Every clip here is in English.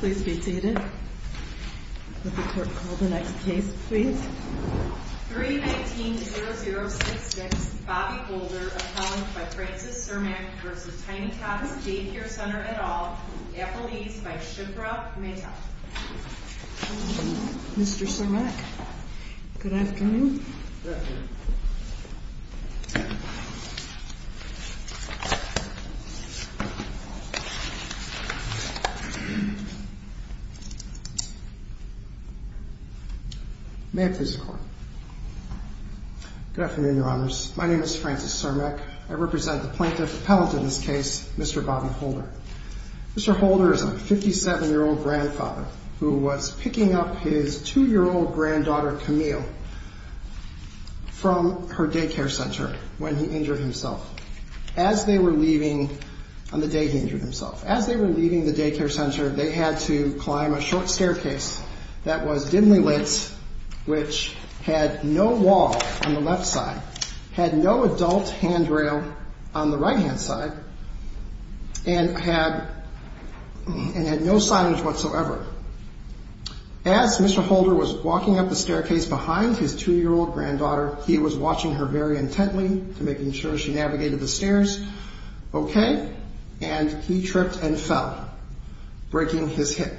Please be seated. Would the court call the next case, please? 319-0066 Bobby Holder, appellant by Frances Cermak v. Tini Tots Day Care Center et al., Epple East by Shiprock, et al. Mr. Cermak, good afternoon. May I please record? Good afternoon, Your Honors. My name is Francis Cermak. I represent the plaintiff appellant in this case, Mr. Bobby Holder. Mr. Holder is a 57-year-old grandfather who was picking up his two-year-old granddaughter, Camille, from her day care center when he injured himself. On the day he injured himself, as they were leaving the day care center, they had to climb a short staircase that was dimly lit, which had no wall on the left hand side, and had no silence whatsoever. As Mr. Holder was walking up the staircase behind his two-year-old granddaughter, he was watching her very intently, making sure she navigated the stairs okay, and he tripped and fell, breaking his hip.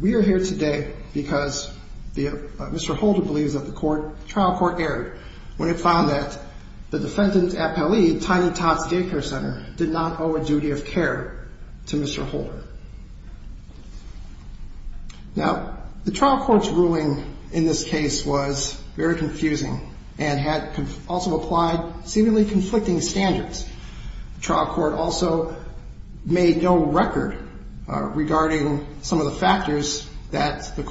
We are here today because Mr. Holder believes that the trial court erred when it found that the defendant appellee, Tiny Tots Day Care Center, did not owe a duty of care to Mr. Holder. Now, the trial court's ruling in this case was very confusing and had also applied seemingly conflicting standards. The trial court also made no record regarding some of the allegations that the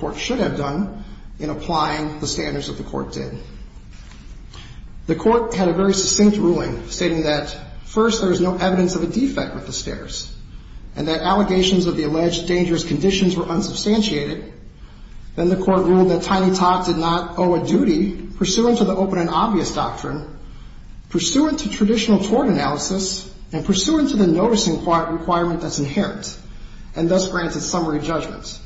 court did. The court had a very succinct ruling stating that, first, there is no evidence of a defect with the stairs, and that allegations of the alleged dangerous conditions were unsubstantiated. Then the court ruled that Tiny Tots did not owe a duty pursuant to the open and obvious doctrine, pursuant to traditional tort analysis, and pursuant to the noticing requirement that's inherent, and thus grants a summary judgment.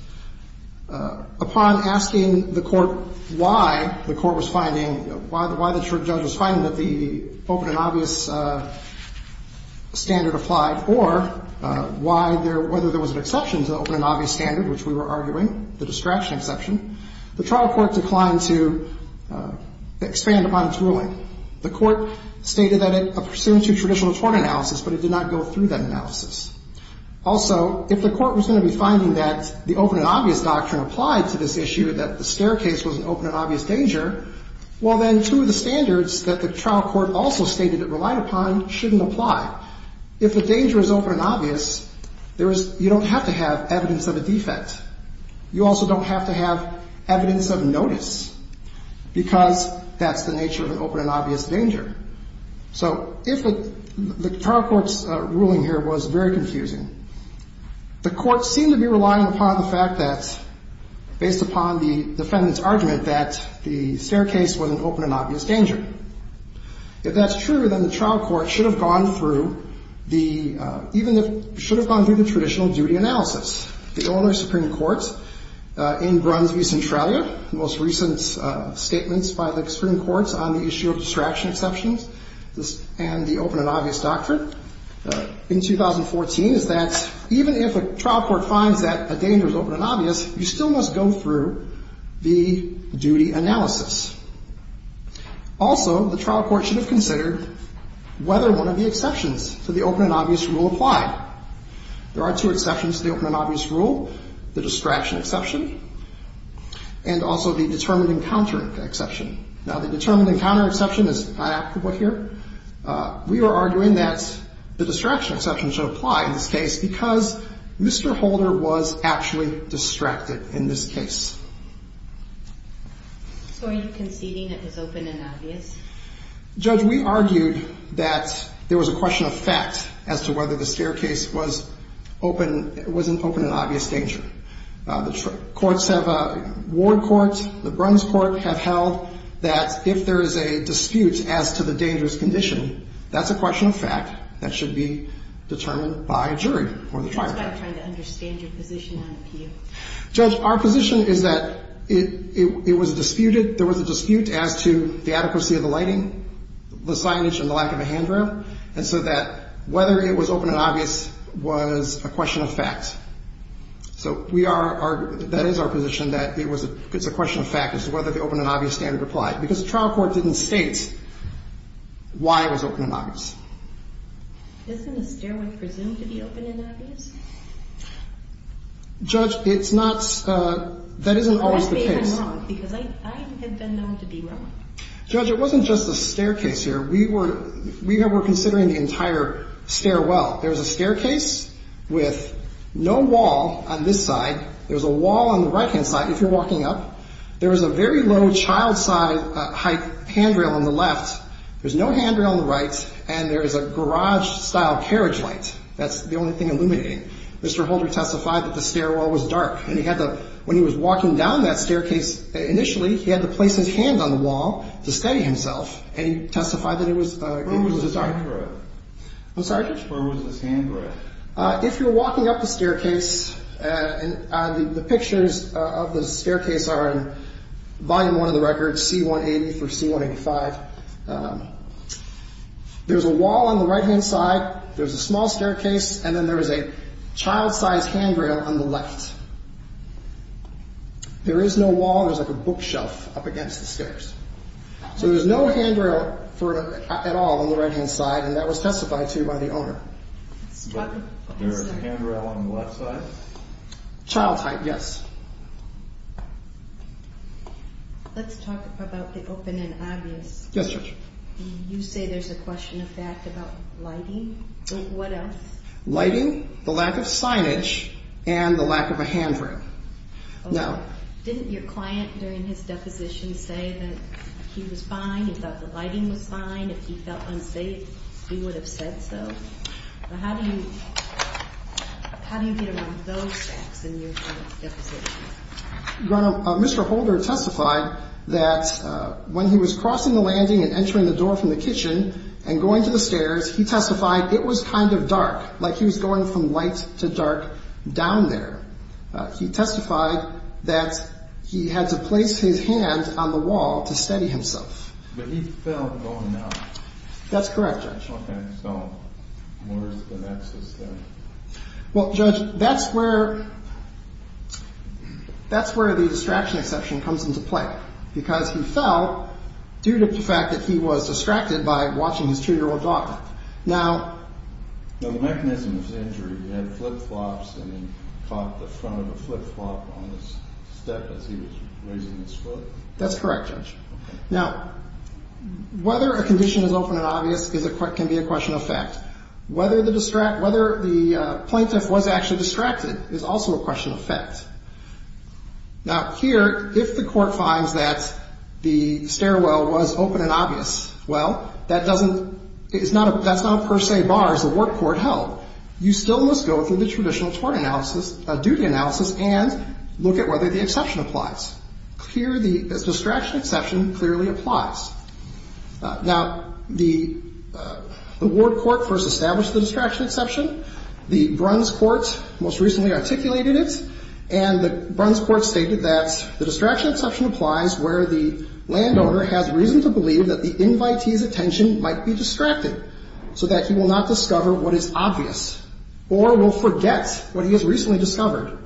Upon asking the court why the court was finding, why the judge was finding that the open and obvious standard applied, or why there, whether there was an exception to the open and obvious standard, which we were arguing, the distraction exception, the trial court declined to expand upon its ruling. The court stated that it pursuant to traditional tort analysis, but it did not go through that So if the court was going to be finding that the open and obvious doctrine applied to this issue, that the staircase was an open and obvious danger, well, then two of the standards that the trial court also stated it relied upon shouldn't apply. If the danger is open and obvious, there is, you don't have to have evidence of a defect. You also don't have to have evidence of notice, because that's the nature of an open and obvious danger. So if the trial court's ruling here was very confusing, the court seemed to be relying upon the fact that, based upon the defendant's argument, that the staircase was an open and obvious danger. If that's true, then the trial court should have gone through the, even if, should have gone through the traditional duty analysis. The Illinois Supreme Court in Brunswick, Centralia, the most recent statements by the Supreme Court on the issue of distraction exceptions and the open and obvious doctrine in 2014, is that even if a trial court finds that a danger is open and obvious, you still must go through the duty analysis. Also, the trial court should have considered whether one of the exceptions to the open and obvious rule applied. There are two exceptions to the open and obvious rule, the distraction exception and also the determined encounter exception. Now, the determined encounter exception is not applicable here. We are arguing that the distraction exception should apply in this case, because Mr. Holder was actually distracted in this case. So are you conceding it was open and obvious? Judge, we argued that there was a question of fact as to whether the staircase was open, was an open and obvious danger. The courts have, Ward courts, the Brunswick court, have held that if there is a dispute as to the dangerous condition, that's a question of fact that should be determined by a jury or the trial court. That's why I'm trying to understand your position on appeal. Judge, our position is that it was disputed, there was a dispute as to the adequacy of the lighting, the signage, and the a question of fact. So we are, that is our position, that it's a question of fact as to whether the open and obvious standard applied, because the trial court didn't state why it was open and obvious. Isn't a stairway presumed to be open and obvious? Judge, it's not, that isn't always the case. Because I have been known to be wrong. Judge, it wasn't just the staircase here. We were considering the entire stairwell. There was a staircase with no wall on this side. There was a wall on the right-hand side, if you're walking up. There was a very low, child-sized height handrail on the left. There's no handrail on the right, and there is a garage-style carriage light. That's the only thing illuminating. Mr. Holder testified that the stairwell was dark, and he had to, when he was walking down that staircase initially, he had to place his hand on the wall to steady himself. And he testified that it was, it was a dark. I'm sorry? Where was this handrail? If you're walking up the staircase, and the pictures of the staircase are in volume one of the record, C-180 for C-185. There's a wall on the right-hand side, there's a small staircase, and then there is a child-sized handrail on the left. There is no wall, there's like a bookshelf up against the stairs. So there's no handrail for, at all, on the right-hand side, and that was testified to by the owner. But, there is a handrail on the left side? Child-type, yes. Let's talk about the open and obvious. Yes, Judge. You say there's a question of fact about lighting, but what else? Lighting, the lack of signage, and the lack of a handrail. Now. Didn't your client, during his deposition, say that he was fine, he thought the lighting was fine, if he felt unsafe, he would have said so? How do you, how do you get around those facts in your client's deposition? Mr. Holder testified that when he was crossing the landing and entering the door from the kitchen, and going to the stairs, he testified it was kind of dark. Like he was going from light to dark down there. He testified that he had to place his hand on the wall to steady himself. But he fell going out. That's correct, Judge. Okay, so where's the next step? Well, Judge, that's where, that's where the distraction exception comes into play. Because he fell due to the fact that he was distracted by watching his two-year-old daughter. Now. Now, the mechanism of the injury, he had flip-flops, and he caught the front of a flip-flop on his step as he was raising his foot? That's correct, Judge. Now, whether a condition is open and obvious can be a question of fact. Whether the plaintiff was actually distracted is also a question of fact. Now, here, if the court finds that the stairwell was open and obvious, well, that doesn't, it's not a, that's not a per se bar as the ward court held. You still must go through the traditional tort analysis, duty analysis, and look at whether the exception applies. Here, the distraction exception clearly applies. Now, the ward court first established the distraction exception. The Bruns Court most recently articulated it, and the Bruns Court stated that the distraction exception applies where the landowner has reason to believe that the invitee's attention might be distracted, so that he will not discover what is obvious, or will forget what he has recently discovered,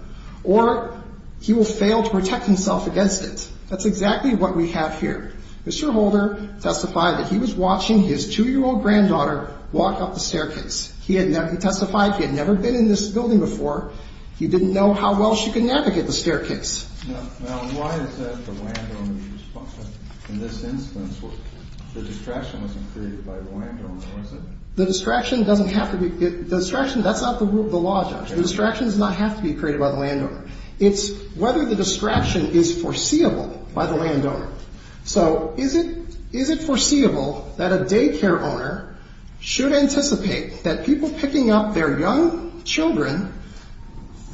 or he will fail to protect himself against it. That's exactly what we have here. Mr. Holder testified that he was watching his two-year-old granddaughter walk up the staircase. He had never, he testified he had never been in this building before. He didn't know how well she could navigate the staircase. Now, why is that the landowner is responsible? In this instance, the distraction wasn't created by the landowner, was it? The distraction doesn't have to be, the distraction, that's not the rule of the law, Judge. The distraction does not have to be created by the landowner. It's whether the distraction is foreseeable by the landowner. So is it, is it foreseeable that a daycare owner should anticipate that people picking up their young children,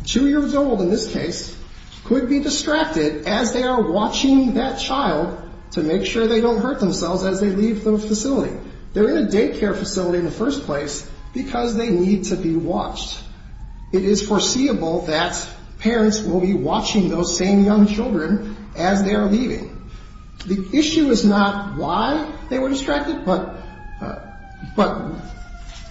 two-year-old in this case, could be distracted as they are watching that child to make sure they don't hurt themselves as they leave the facility? They're in a daycare facility in the first place because they need to be watched. It is foreseeable that parents will be watching those same young children as they are leaving. The issue is not why they were distracted, but, but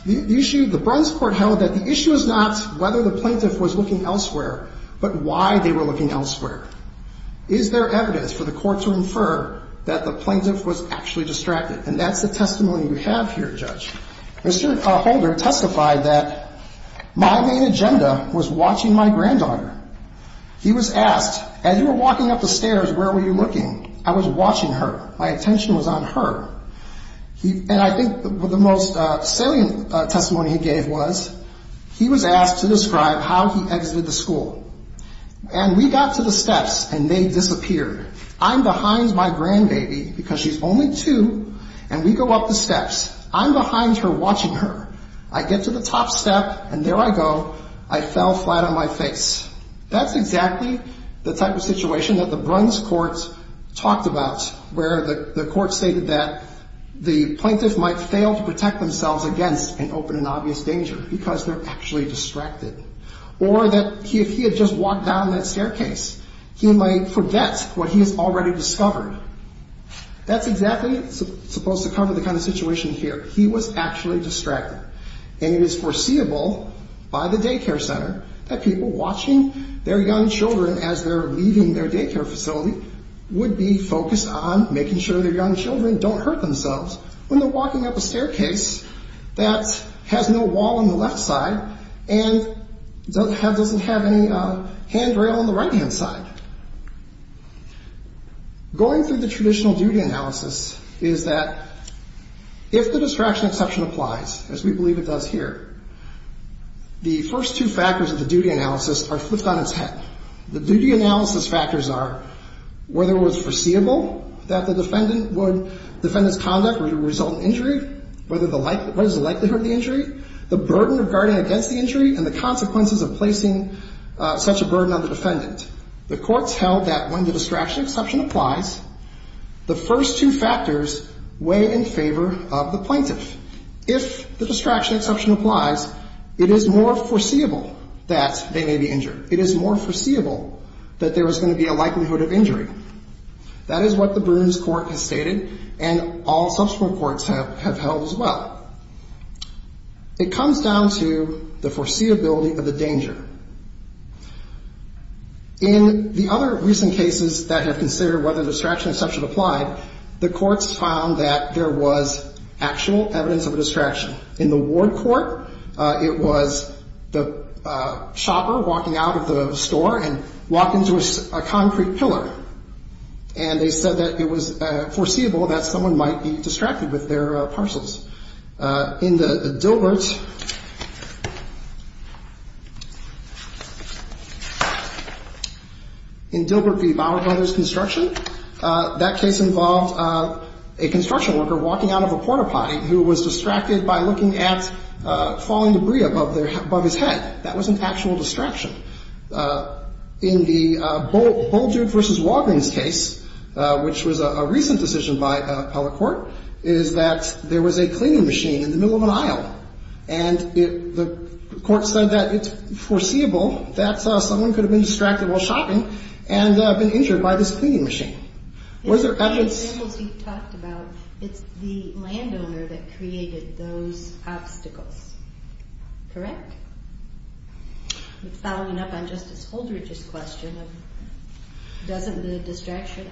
the issue, the Bruns Court held that the issue is not whether the plaintiff was looking elsewhere, but why they were looking elsewhere. Is there evidence for the court to infer that the plaintiff was actually distracted? And that's the testimony we have here, Judge. Mr. Holder testified that my main agenda was watching my granddaughter. He was asked, as you were walking up the stairs, where were you looking? I was watching her. My attention was on her. And I think the most salient testimony he gave was he was asked to describe how he exited the school. And we got to the steps and they disappeared. I'm behind my grandbaby because she's only two and we go up the steps. I'm behind her watching her. I get to the top step and there I go. I fell flat on my face. That's exactly the type of situation that the Bruns Court talked about, where the court stated that the plaintiff might fail to protect themselves against an open and obvious danger because they're actually distracted. Or that if he had just walked down that staircase, he might forget what he has already discovered. That's exactly supposed to cover the kind of situation here. He was actually distracted. And it is foreseeable by the daycare center that people watching their young children as they're leaving their daycare facility would be focused on making sure their young children don't hurt themselves when they're walking up a staircase that has no wall on the left side and doesn't have any handrail on the right hand side. Going through the traditional duty analysis is that if the distraction exception applies, as we believe it does here, the first two factors of the duty analysis are flipped on its head. The duty analysis factors are whether it was foreseeable that the defendant's conduct would result in injury, what is the likelihood of the injury, the burden of guarding against the injury, and the consequences of placing such a burden on the defendant. The courts held that when the distraction exception applies, the first two factors weigh in favor of the plaintiff. If the distraction exception applies, it is more foreseeable that they may be injured. It is more foreseeable that there is going to be a likelihood of injury. That is what the Brooms Court has stated, and all subsequent courts have held as well. It comes down to the foreseeability of the danger. In the other recent cases that have considered whether the distraction exception applied, the courts found that there was actual evidence of a distraction. In the Ward Court, it was the shopper walking out of the store and walked into a concrete pillar, and they said that it was foreseeable that someone might be distracted with their parcels. In Dilbert v. Bauer Brothers Construction, that case involved a construction worker walking out of a port-a-potty who was distracted by looking at falling debris above his head. That was an actual distraction. In the Bulldude v. Walgreens case, which was a recent decision by Appellate Court, is that there was a cleaning machine in the middle of an aisle, and the court said that it's foreseeable that someone could have been distracted while shopping and been injured by this cleaning machine. Was there evidence? The examples you've talked about, it's the landowner that created those obstacles, correct? Following up on Justice Holdridge's question, doesn't the distraction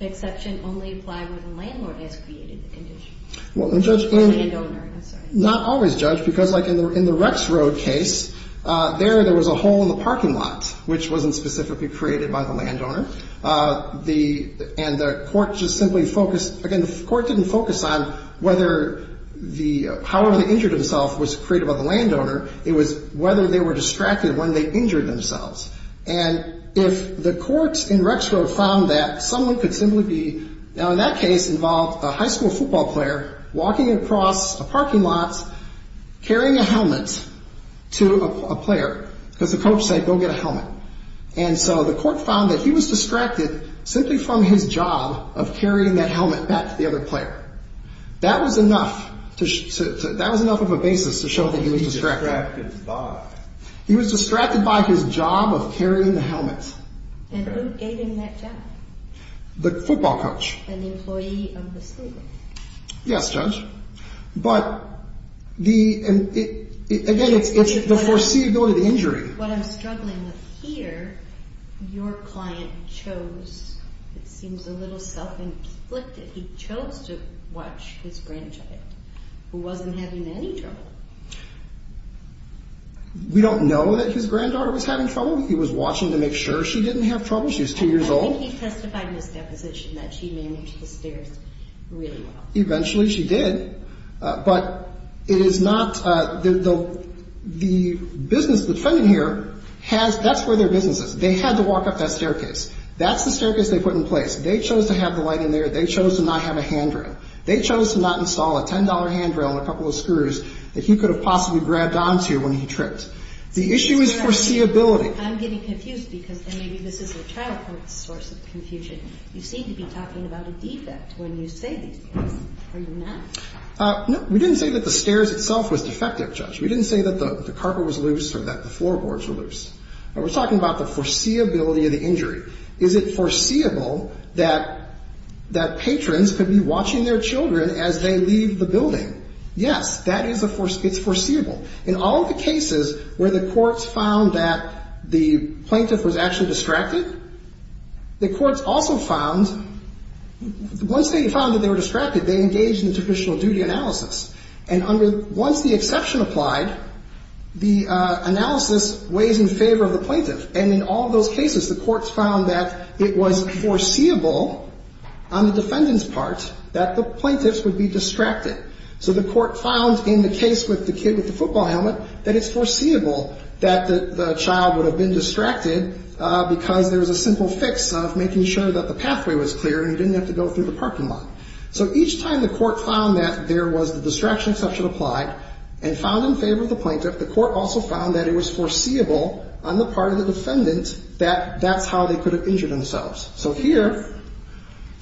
exception only apply where the landlord has created the condition? Not always, Judge, because like in the Rex Road case, there was a hole in the parking lot, which wasn't specifically created by the landowner. And the court just simply focused, again, the court didn't focus on whether the power that injured himself was created by the landowner, it was whether they were distracted when they injured themselves. And if the court in Rex Road found that someone could simply be, now in that case involved a high school football player walking across a parking lot, carrying a helmet to a player, because the coach said, go get a helmet. And so the court found that he was distracted simply from his job of carrying that helmet back to the other player. That was enough of a basis to show that he was distracted. He was distracted by his job of carrying the helmet. And who gave him that job? The football coach. An employee of the school? Yes, Judge. But again, it's the foreseeability of the injury. What I'm struggling with here, your client chose, it seems a little self-inflicted, he chose to watch his grandchild who wasn't having any trouble. We don't know that his granddaughter was having trouble. He was watching to make sure she didn't have trouble. She was two years old. I think he testified in his deposition that she managed the stairs really well. Eventually she did. But it is not, the business defendant here has, that's where their business is. They had to walk up that staircase. That's the staircase they put in place. They chose to have the light in there. They chose to not have a handrail. They chose to not install a $10 handrail and a couple of screws that he could have possibly grabbed onto when he tripped. The issue is foreseeability. I'm getting confused because maybe this is a childhood source of confusion. You seem to be talking about a defect when you say these things. Are you not? No, we didn't say that the stairs itself was defective, Judge. We didn't say that the carpet was loose or that the floorboards were loose. We're talking about the foreseeability of the injury. Is it foreseeable that patrons could be watching their children as they leave the building? Yes, it's foreseeable. In all of the cases where the courts found that the plaintiff was actually distracted, the courts also found, once they found that they were distracted, they engaged in the traditional duty analysis. And once the exception applied, the analysis weighs in favor of the plaintiff. And in all of those cases, the courts found that it was foreseeable on the defendant's part that the plaintiffs would be distracted. So the court found in the case with the kid with the football helmet that it's foreseeable that the child would have been distracted because there was a simple fix of making sure that the pathway was clear and he didn't have to go through the parking lot. So each time the court found that there was the distraction exception applied and found in favor of the plaintiff, the court also found that it was foreseeable on the part of the defendant that that's how they could have injured themselves. So here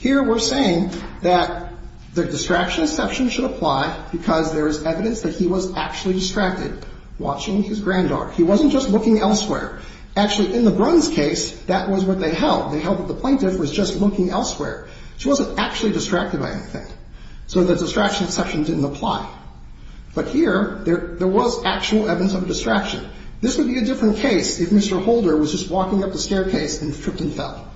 we're saying that the distraction exception should apply because there is evidence that he was actually distracted watching his granddaughter. He wasn't just looking elsewhere. Actually, in the Bruns case, that was what they held. They held that the plaintiff was just looking elsewhere. She wasn't actually distracted by anything. So the distraction exception didn't apply. But here, there was actual evidence of distraction. This would be a different case if Mr. Holder was just walking up the staircase and tripped and fell.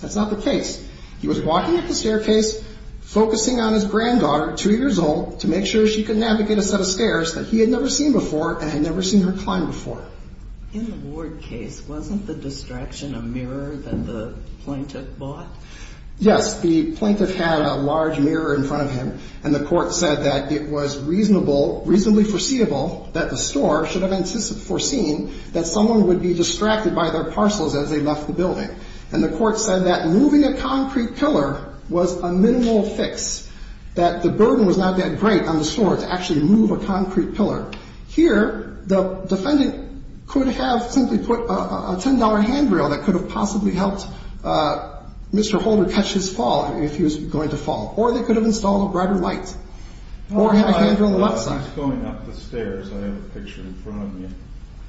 That's not the case. He was walking up the staircase, focusing on his granddaughter, two years old, to make sure she could navigate a set of stairs that he had never seen before and had never seen her climb before. In the Ward case, wasn't the distraction a mirror that the plaintiff bought? Yes, the plaintiff had a large mirror in front of him. And the court said that it was reasonable, reasonably foreseeable that the store should have foreseen that someone would be distracted by their parcels as they left the building. And the court said that moving a concrete pillar was a minimal fix, that the burden was not that great on the store to actually move a concrete pillar. Here, the defendant could have simply put a $10 handrail that could have possibly helped Mr. Holder catch his fall if he was going to fall. Or they could have installed a brighter light or a handrail on the left side. I was going up the stairs. I have a picture in front of me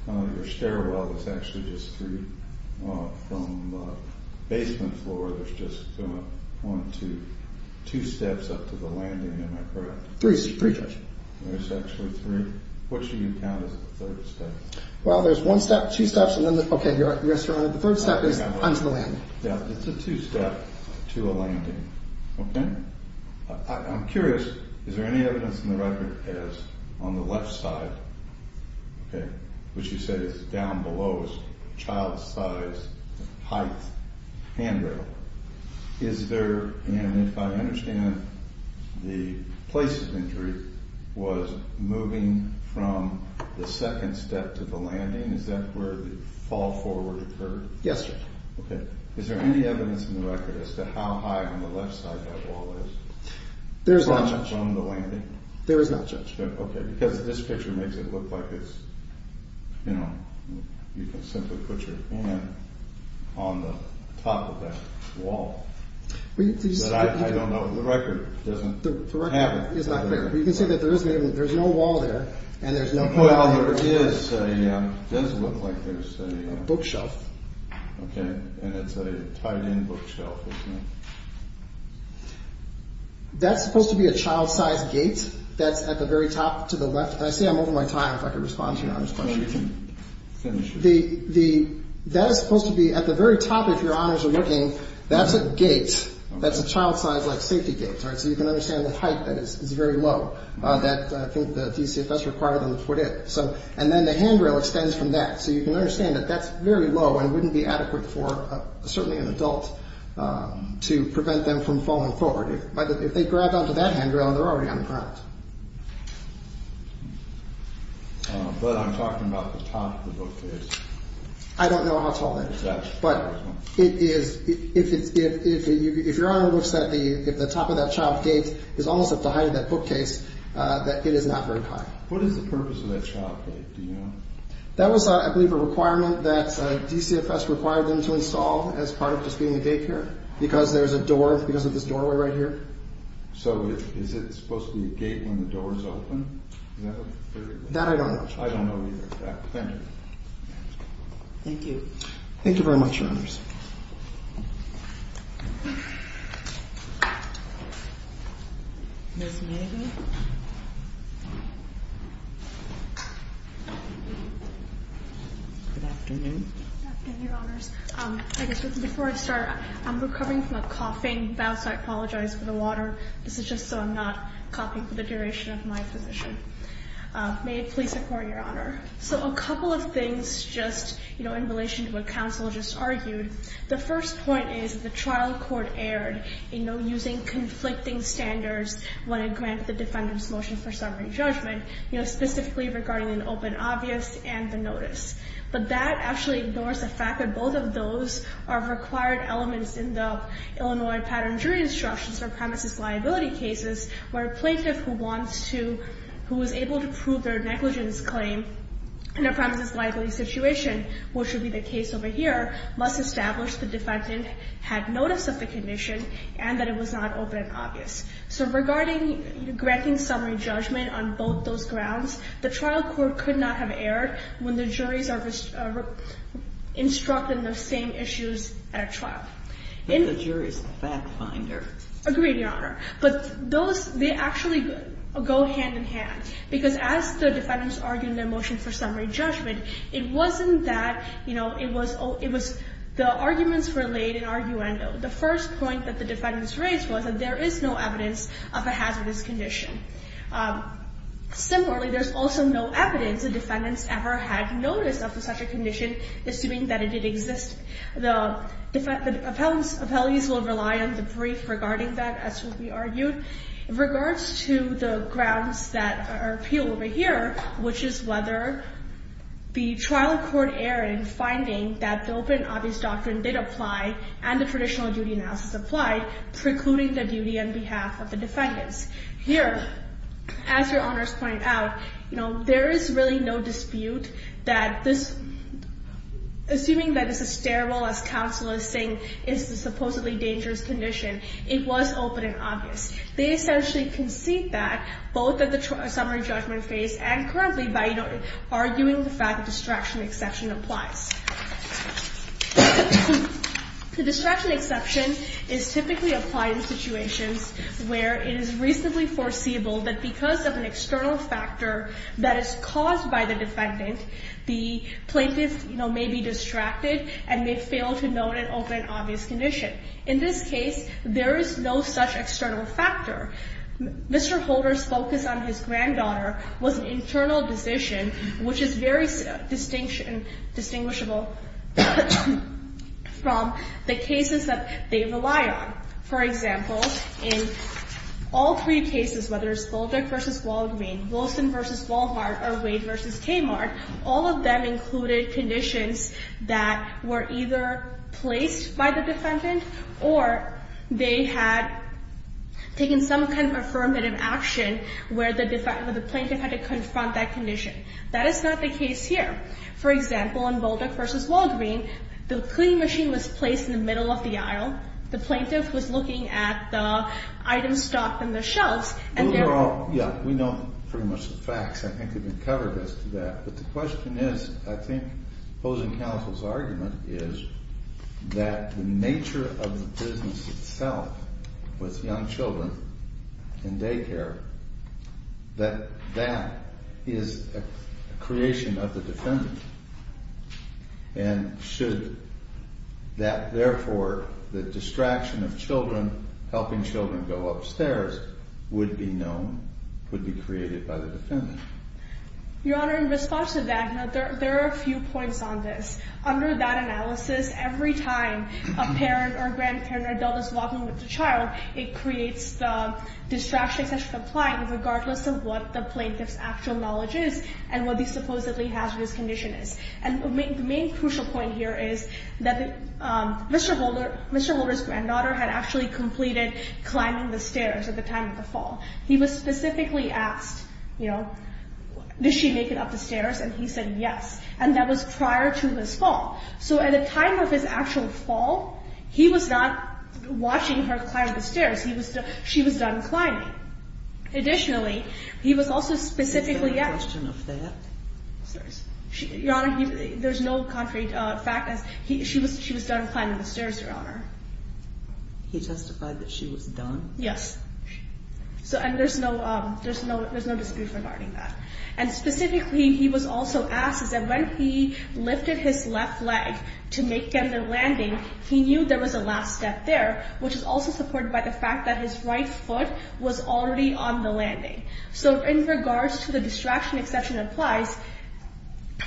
of your stairwell. It's actually just three from the basement floor. There's just one, two, two steps up to the landing, am I correct? Three, three, Judge. There's actually three. Which do you count as the third step? Well, there's one step, two steps. And then, okay, you're at the restaurant. The third step is onto the landing. Yeah, it's a two-step to a landing, okay? I'm curious, is there any evidence in the record as on the left side, okay, which you said is down below is a child-sized height handrail. Is there, and if I understand, the place of injury was moving from the second step to the landing. Is that where the fall forward occurred? Yes, Judge. Okay. Is there any evidence in the record as to how high on the left side that wall is? There's not, Judge. From the landing? There is not, Judge. Okay, because this picture makes it look like it's, you know, you can simply put your hand on the top of that wall. But I don't know, the record doesn't have it. The record is not clear. You can see that there is, there's no wall there and there's no handrail. Well, there is a, it does look like there's a... Bookshelf. Okay, and it's a tied-in bookshelf, isn't it? That's supposed to be a child-sized gate that's at the very top to the left. And I say I'm over my time. If I could respond to your Honor's question. The, that is supposed to be at the very top, if your Honors are looking, that's a gate. That's a child-sized, like, safety gate, all right? So you can understand the height that is very low that I think the DCFS required them to put in. So, and then the handrail extends from that. So you can understand that that's very low and wouldn't be adequate for certainly an adult to prevent them from falling forward. If they grab onto that handrail, they're already on the ground. But I'm talking about the top of the bookcase. I don't know how tall that is. But it is, if it's, if your Honor looks at the, if the top of that child gate is almost at the height of that bookcase, that it is not very high. What is the purpose of that child gate? Do you know? That was, I believe, a requirement that DCFS required them to install as part of just being the gate here. Because there's a door, because of this doorway right here. So is it supposed to be a gate when the door is open? No. That I don't know. I don't know either. Thank you. Thank you. Thank you very much, Your Honors. Ms. Megan? Good afternoon. Good afternoon, Your Honors. I guess before I start, I'm recovering from a coughing bout. So I apologize for the water. This is just so I'm not coughing for the duration of my position. May it please the Court, Your Honor. So a couple of things just, you know, in relation to what counsel just argued. The first point is the trial court erred, you know, using conflicting standards when it granted the defendant's motion for summary judgment, you know, specifically regarding an open obvious and the notice. But that actually ignores the fact that both of those are required elements in the Illinois pattern jury instructions for premises liability cases, where a plaintiff who wants to, who was able to prove their negligence claim in a premises liability situation, which would be the case over here, must establish the defendant had notice of the condition and that it was not open and obvious. So regarding granting summary judgment on both those grounds, the trial court could not have erred when the juries are instructed in the same issues at a trial. If the jury is a fact finder. Agreed, Your Honor. But those, they actually go hand in hand. Because as the defendants argue in their motion for summary judgment, it wasn't that, you know, it was the arguments were laid in arguendo. The first point that the defendants raised was that there is no evidence of a hazardous condition. Similarly, there's also no evidence the defendants ever had notice of such a condition assuming that it did exist. The appellees will rely on the brief regarding that, as we argued. In regards to the grounds that are appealed over here, which is whether the trial court erred in finding that the open and obvious doctrine did apply and the traditional duty analysis applied, precluding the duty on behalf of the defendants. Here, as Your Honors point out, you know, there is really no dispute that this, assuming that this is terrible as counsel is saying it's a supposedly dangerous condition. It was open and obvious. They essentially concede that both at the summary judgment phase and currently by arguing the fact that distraction exception applies. The distraction exception is typically applied in situations where it is reasonably foreseeable that because of an external factor that is caused by the defendant, the plaintiff may be distracted and may fail to note an open and obvious condition. In this case, there is no such external factor. Mr. Holder's focus on his granddaughter was an internal decision, which is very distinguishable from the cases that they rely on. For example, in all three cases, whether it's Voldick v. Walgreen, Wilson v. Walhart, or Wade v. Kmart, all of them included conditions that were either placed by the defendant or they had taken some kind of affirmative action where the plaintiff had to confront that condition. That is not the case here. For example, in Voldick v. Walgreen, the cleaning machine was placed in the middle of the aisle. The plaintiff was looking at the items stocked on the shelves and there were... Yeah, we know pretty much the facts. I think we've covered this to that. But the question is, I think opposing counsel's argument is that the nature of the business itself with young children in daycare, that that is a creation of the defendant. And should that, therefore, the distraction of children, go upstairs, would be known, would be created by the defendant? Your Honor, in response to that, there are a few points on this. Under that analysis, every time a parent or grandparent or adult is walking with the child, it creates the distraction such as complying regardless of what the plaintiff's actual knowledge is and what the supposedly hazardous condition is. And the main crucial point here is that Mr. Holder's granddaughter had actually completed climbing the stairs at the time of the fall. He was specifically asked, you know, did she make it up the stairs? And he said, yes. And that was prior to his fall. So at the time of his actual fall, he was not watching her climb the stairs. She was done climbing. Additionally, he was also specifically... Is there a question of that? Your Honor, there's no contrary fact. She was done climbing the stairs, Your Honor. He testified that she was done? Yes. So, and there's no dispute regarding that. And specifically, he was also asked that when he lifted his left leg to make the landing, he knew there was a last step there, which is also supported by the fact that his right foot was already on the landing. So in regards to the distraction exception applies,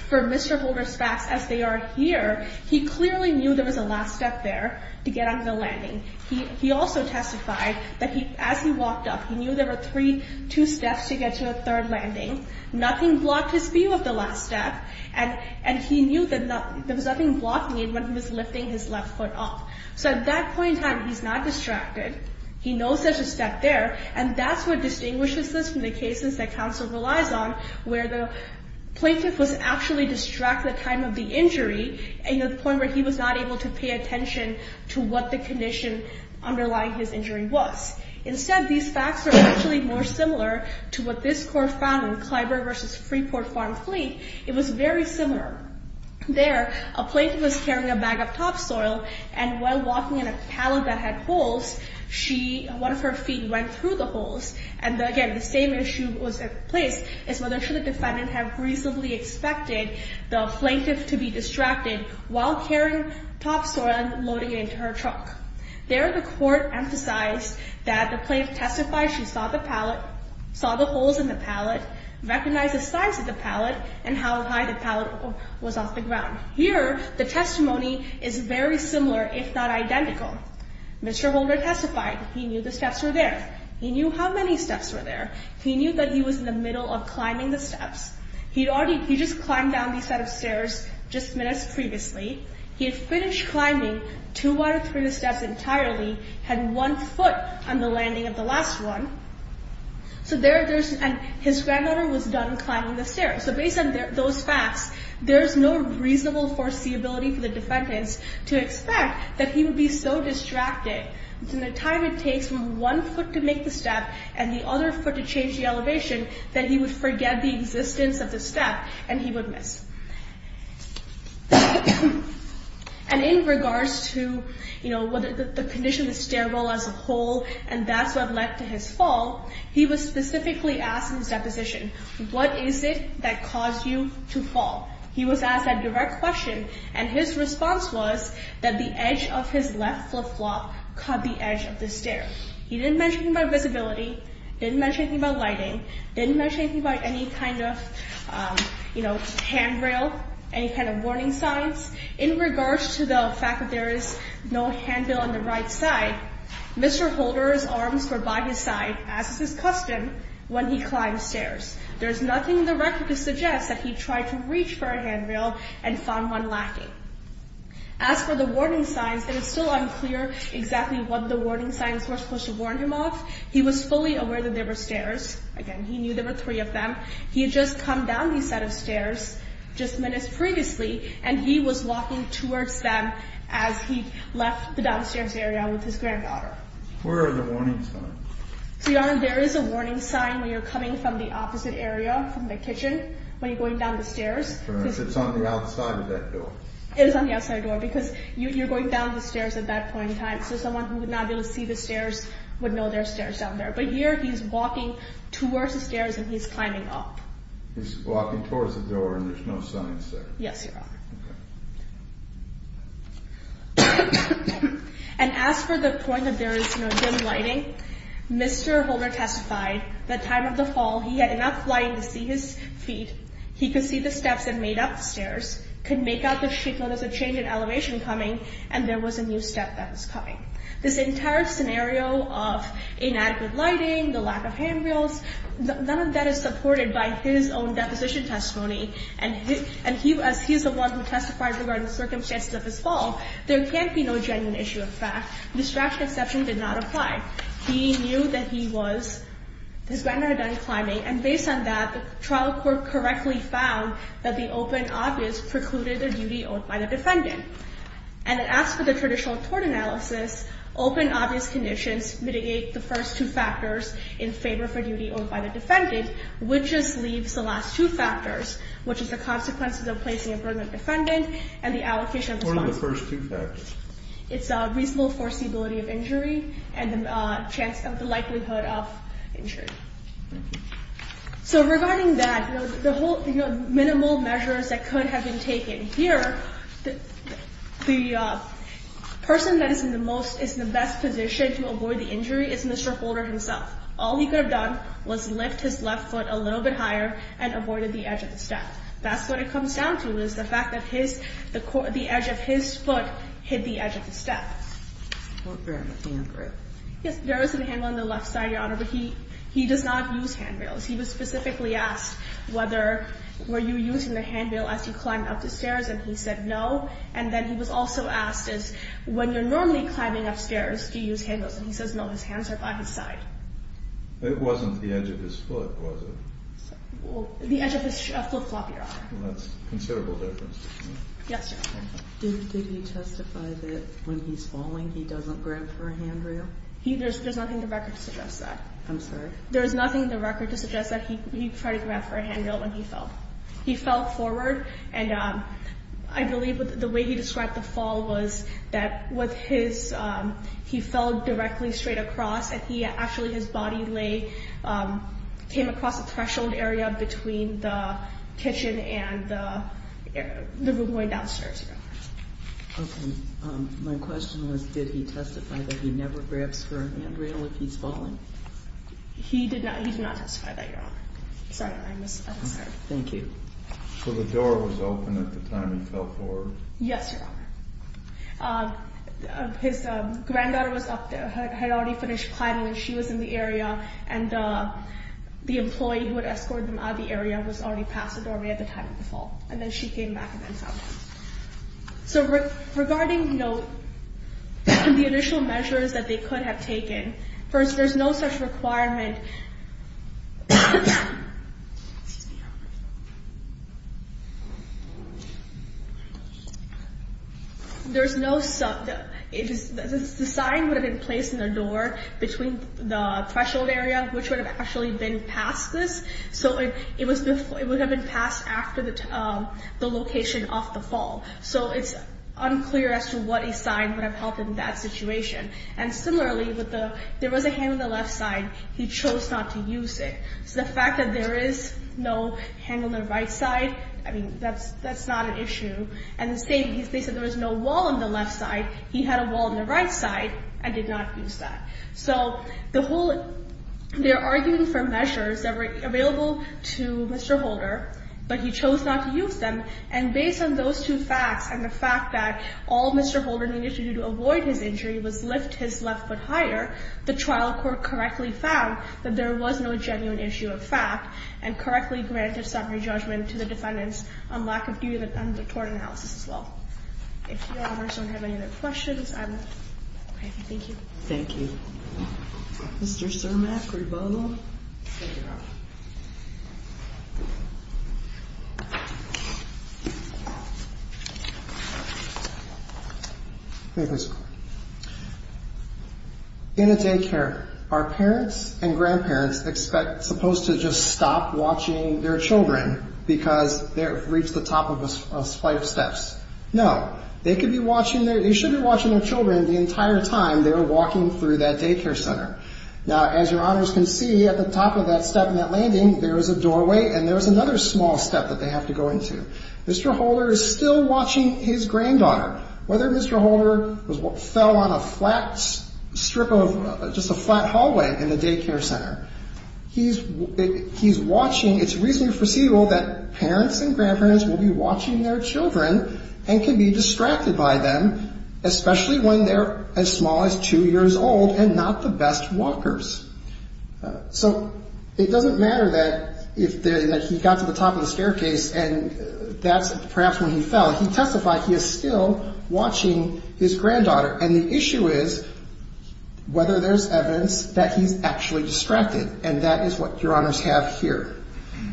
for Mr. Holder's facts as they are here, he clearly knew there was a last step there to get on the landing. He also testified that as he walked up, he knew there were three, two steps to get to a third landing. Nothing blocked his view of the last step. And he knew that there was nothing blocking it when he was lifting his left foot up. So at that point in time, he's not distracted. He knows there's a step there. And that's what distinguishes this from the cases that counsel relies on, where the plaintiff was actually distracted at the time of the injury and the point where he was not able to pay attention to what the condition underlying his injury was. Instead, these facts are actually more similar to what this court found in Clyburn v. Freeport Farm Fleet. It was very similar. There, a plaintiff was carrying a bag of topsoil. And while walking in a pallet that had holes, one of her feet went through the holes. And again, the same issue was in place, is whether should the defendant have reasonably expected the plaintiff to be distracted while carrying topsoil and loading it into her truck. There, the court emphasized that the plaintiff testified she saw the pallet, saw the holes in the pallet, recognized the size of the pallet, and how high the pallet was off the ground. Here, the testimony is very similar, if not identical. Mr. Holder testified he knew the steps were there. He knew how many steps were there. He knew that he was in the middle of climbing the steps. He just climbed down these set of stairs just minutes previously. He had finished climbing two out of three of the steps entirely, had one foot on the landing of the last one. So there, there's, and his granddaughter was done climbing the stairs. So based on those facts, there's no reasonable foreseeability for the defendants to expect that he would be so distracted in the time it takes from one foot to make the step and the other foot to change the elevation, that he would forget the existence of the step and he would miss. And in regards to, you know, whether the condition of the stairwell as a whole, and that's what led to his fall, he was specifically asked in his deposition, what is it that caused you to fall? He was asked that direct question, and his response was that the edge of his left flip-flop cut the edge of the stair. He didn't mention about visibility, didn't mention anything about lighting, didn't mention anything about any kind of, you know, handrail, any kind of warning signs. In regards to the fact that there is no handrail on the right side, Mr. Holder's arms were by his side, as is his custom, when he climbed stairs. There's nothing in the record to suggest that he tried to reach for a handrail and found one lacking. As for the warning signs, it is still unclear exactly what the warning signs were supposed to warn him of. He was fully aware that there were stairs. Again, he knew there were three of them. He had just come down these set of stairs just minutes previously, and he was walking towards them as he left the downstairs area with his granddaughter. Where are the warning signs? So, Your Honor, there is a warning sign when you're coming from the opposite area, from the kitchen, when you're going down the stairs. It's on the outside of that door? It is on the outside door, because you're going down the stairs at that point in time, so someone who would not be able to see the stairs would know there are stairs down there. But here, he's walking towards the stairs, and he's climbing up. He's walking towards the door, and there's no signs there? Yes, Your Honor. And as for the point that there is no dim lighting, Mr. Holder testified that time of the fall, he had enough light to see his feet. He could see the steps that made up the stairs, could make out the shape, notice a change in elevation coming, and there was a new step that was coming. This entire scenario of inadequate lighting, the lack of handrails, none of that is supported by his own deposition testimony. And he, as he's the one who testified regarding the circumstances of his fall, there can't be no genuine issue of fact. The distraction exception did not apply. He knew that he was, his granddaughter had done climbing, and based on that, the trial court correctly found that the open obvious precluded the duty owed by the defendant. And it asks for the traditional court analysis, open obvious conditions mitigate the first two factors in favor for duty owed by the defendant, which just leaves the last two factors, which is the consequences of placing a burden of defendant and the allocation of responsibility. What are the first two factors? It's a reasonable foreseeability of injury and the chance of the likelihood of injury. So regarding that, the whole, you know, minimal measures that could have been taken. Here, the person that is in the most, is in the best position to avoid the injury is Mr. Holder himself. All he could have done was lift his left foot a little bit higher and avoided the edge of the step. That's what it comes down to, is the fact that his, the edge of his foot hit the edge of the step. What about the handrail? Yes, there is a handrail on the left side, Your Honor, but he does not use handrails. He was specifically asked whether, were you using the handrail as you climbed up the stairs? And he said, no. And then he was also asked, is when you're normally climbing up stairs, do you use handrails? And he says, no, his hands are by his side. It wasn't the edge of his foot, was it? The edge of his foot, Your Honor. That's considerable difference. Yes, Your Honor. Did he testify that when he's falling, he doesn't grab for a handrail? He, there's nothing in the record to suggest that. I'm sorry? There is nothing in the record to suggest that he tried to grab for a handrail when he fell. He fell forward, and I believe the way he described the fall was that with his, he fell directly straight across, and he actually, his body lay, came across a threshold area between the kitchen and the room going downstairs, Your Honor. Okay, my question was, did he testify that he never grabs for a handrail if he's falling? He did not, he did not testify that, Your Honor. Sorry, I'm sorry. Thank you. So the door was open at the time he fell forward? Yes, Your Honor. His granddaughter was up there, had already finished climbing, and she was in the area, and the employee who had escorted them out of the area was already past the doorway at the time of the fall, and then she came back and then found him. So regarding, you know, the initial measures that they could have taken, first, there's no such requirement, there's no, the sign would have been placed in the door between the threshold area, which would have actually been past this, so it would have been passed after the location of the fall. So it's unclear as to what a sign would have helped in that situation. And similarly, there was a hand on the left side, he chose not to use it. So the fact that there is no hand on the right side, I mean, that's not an issue. And the same, they said there was no wall on the left side, he had a wall on the right side and did not use that. So the whole, they're arguing for measures that were available to Mr. Holder, but he chose not to use them. And based on those two facts, and the fact that all Mr. Holder needed to do to avoid his injury was lift his left foot higher, the trial court correctly found that there was no genuine issue of fact and correctly granted some re-judgment to the defendants on lack of due and the tort analysis as well. If Your Honors don't have any other questions, I'm happy, thank you. Thank you. Mr. Cermak, rebuttal. Thank you, Your Honor. In a daycare, are parents and grandparents expect, supposed to just stop watching their children because they've reached the top of a flight of steps? No, they could be watching their, they should be watching their children the entire time they're walking through that daycare center. Now, as Your Honors can see at the top of that step in that landing, there was a doorway and there was another small step that they have to go into. Mr. Holder is still watching his granddaughter, whether Mr. Holder fell on a flat strip of, just a flat hallway in the daycare center. He's watching, it's reasonably foreseeable that parents and grandparents will be watching their children and can be distracted by them, especially when they're as small as two years old and not the best walkers. So it doesn't matter that he got to the top of the staircase and that's perhaps when he fell. He testified he is still watching his granddaughter. And the issue is whether there's evidence that he's actually distracted. And that is what Your Honors have here.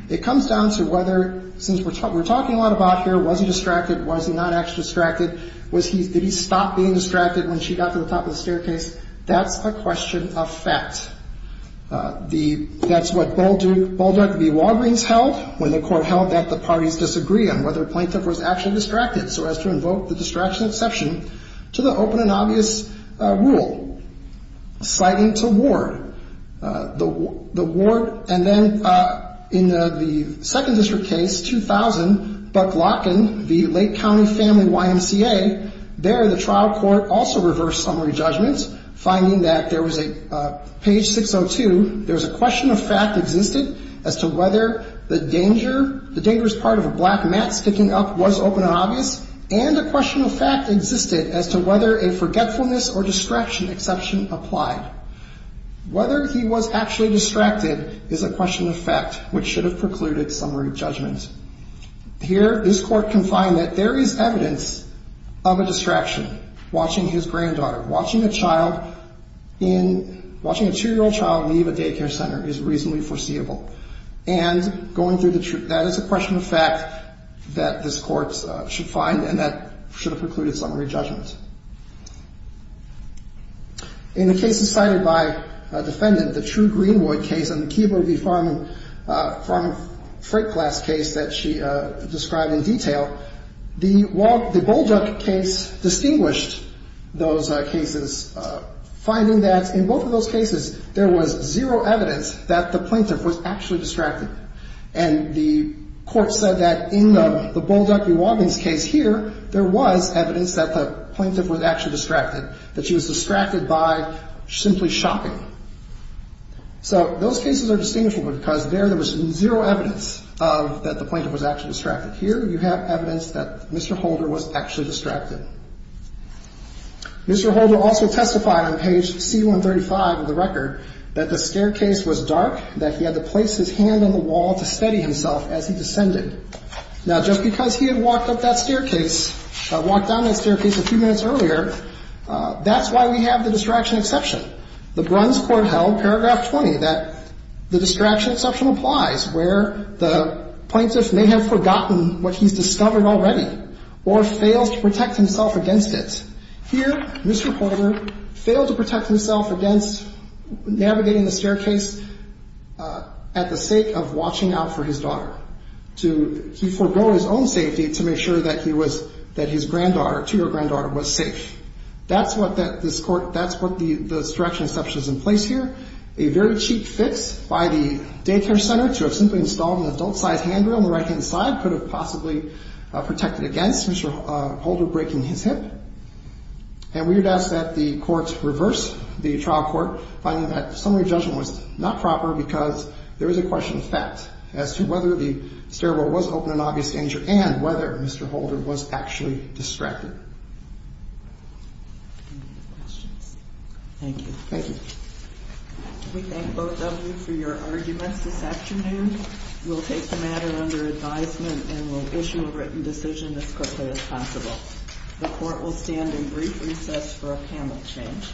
It comes down to whether, since we're talking a lot about here, was he distracted? Was he not actually distracted? Did he stop being distracted when she got to the top of the staircase? That's a question of fact. That's what Baldrug v. Walgreens held when the court held that the parties disagree on whether a plaintiff was actually distracted so as to invoke the distraction exception to the open and obvious rule citing to Ward. And then in the second district case, 2000, Buck-Lotkin v. Lake County Family YMCA, there the trial court also reversed summary judgments finding that there was a page 602, there was a question of fact existed as to whether the dangerous part of a black mat sticking up was open and obvious and a question of fact existed as to whether a forgetfulness or distraction exception applied. Whether he was actually distracted is a question of fact which should have precluded summary judgments. Here, this court can find that there is evidence of a distraction watching his granddaughter, watching a two-year-old child leave a daycare center is reasonably foreseeable. And that is a question of fact that this court should find and that should have precluded summary judgments. In the cases cited by a defendant, the True Greenwood case and the Keebo v. Farman freight class case that she described in detail, the Baldrug case distinguished those cases finding that in both of those cases, there was zero evidence that the plaintiff was actually distracted. And the court said that in the Baldrug v. Wadding's case here, there was evidence that the plaintiff was actually distracted, that she was distracted by simply shopping. So those cases are distinguishable because there was zero evidence of that the plaintiff was actually distracted. Here, you have evidence that Mr. Holder was actually distracted. Mr. Holder also testified on page C-135 of the record that the staircase was dark, that he had to place his hand on the wall to steady himself as he descended. Now, just because he had walked up that staircase, walked down that staircase a few minutes earlier, that's why we have the distraction exception. The Bruns Court held paragraph 20 that the distraction exception applies where the plaintiff may have forgotten what he's discovered already or fails to protect himself against it. Here, Mr. Holder failed to protect himself against navigating the staircase at the sake of watching out for his daughter. He forgo his own safety to make sure that his granddaughter, two-year-old granddaughter, was safe. That's what the distraction exception is in place here. A very cheap fix by the daycare center to have simply installed an adult-sized handrail on the right-hand side could have possibly protected against Mr. Holder breaking his hip. And we would ask that the courts reverse the trial court, finding that summary judgment was not proper because there is a question of fact as to whether the stairwell was open in obvious danger and whether Mr. Holder was actually distracted. Thank you. Thank you. We thank both of you for your arguments this afternoon. We'll take the matter under advisement and we'll issue a written decision as quickly as possible. The court will stand in brief recess for a panel change.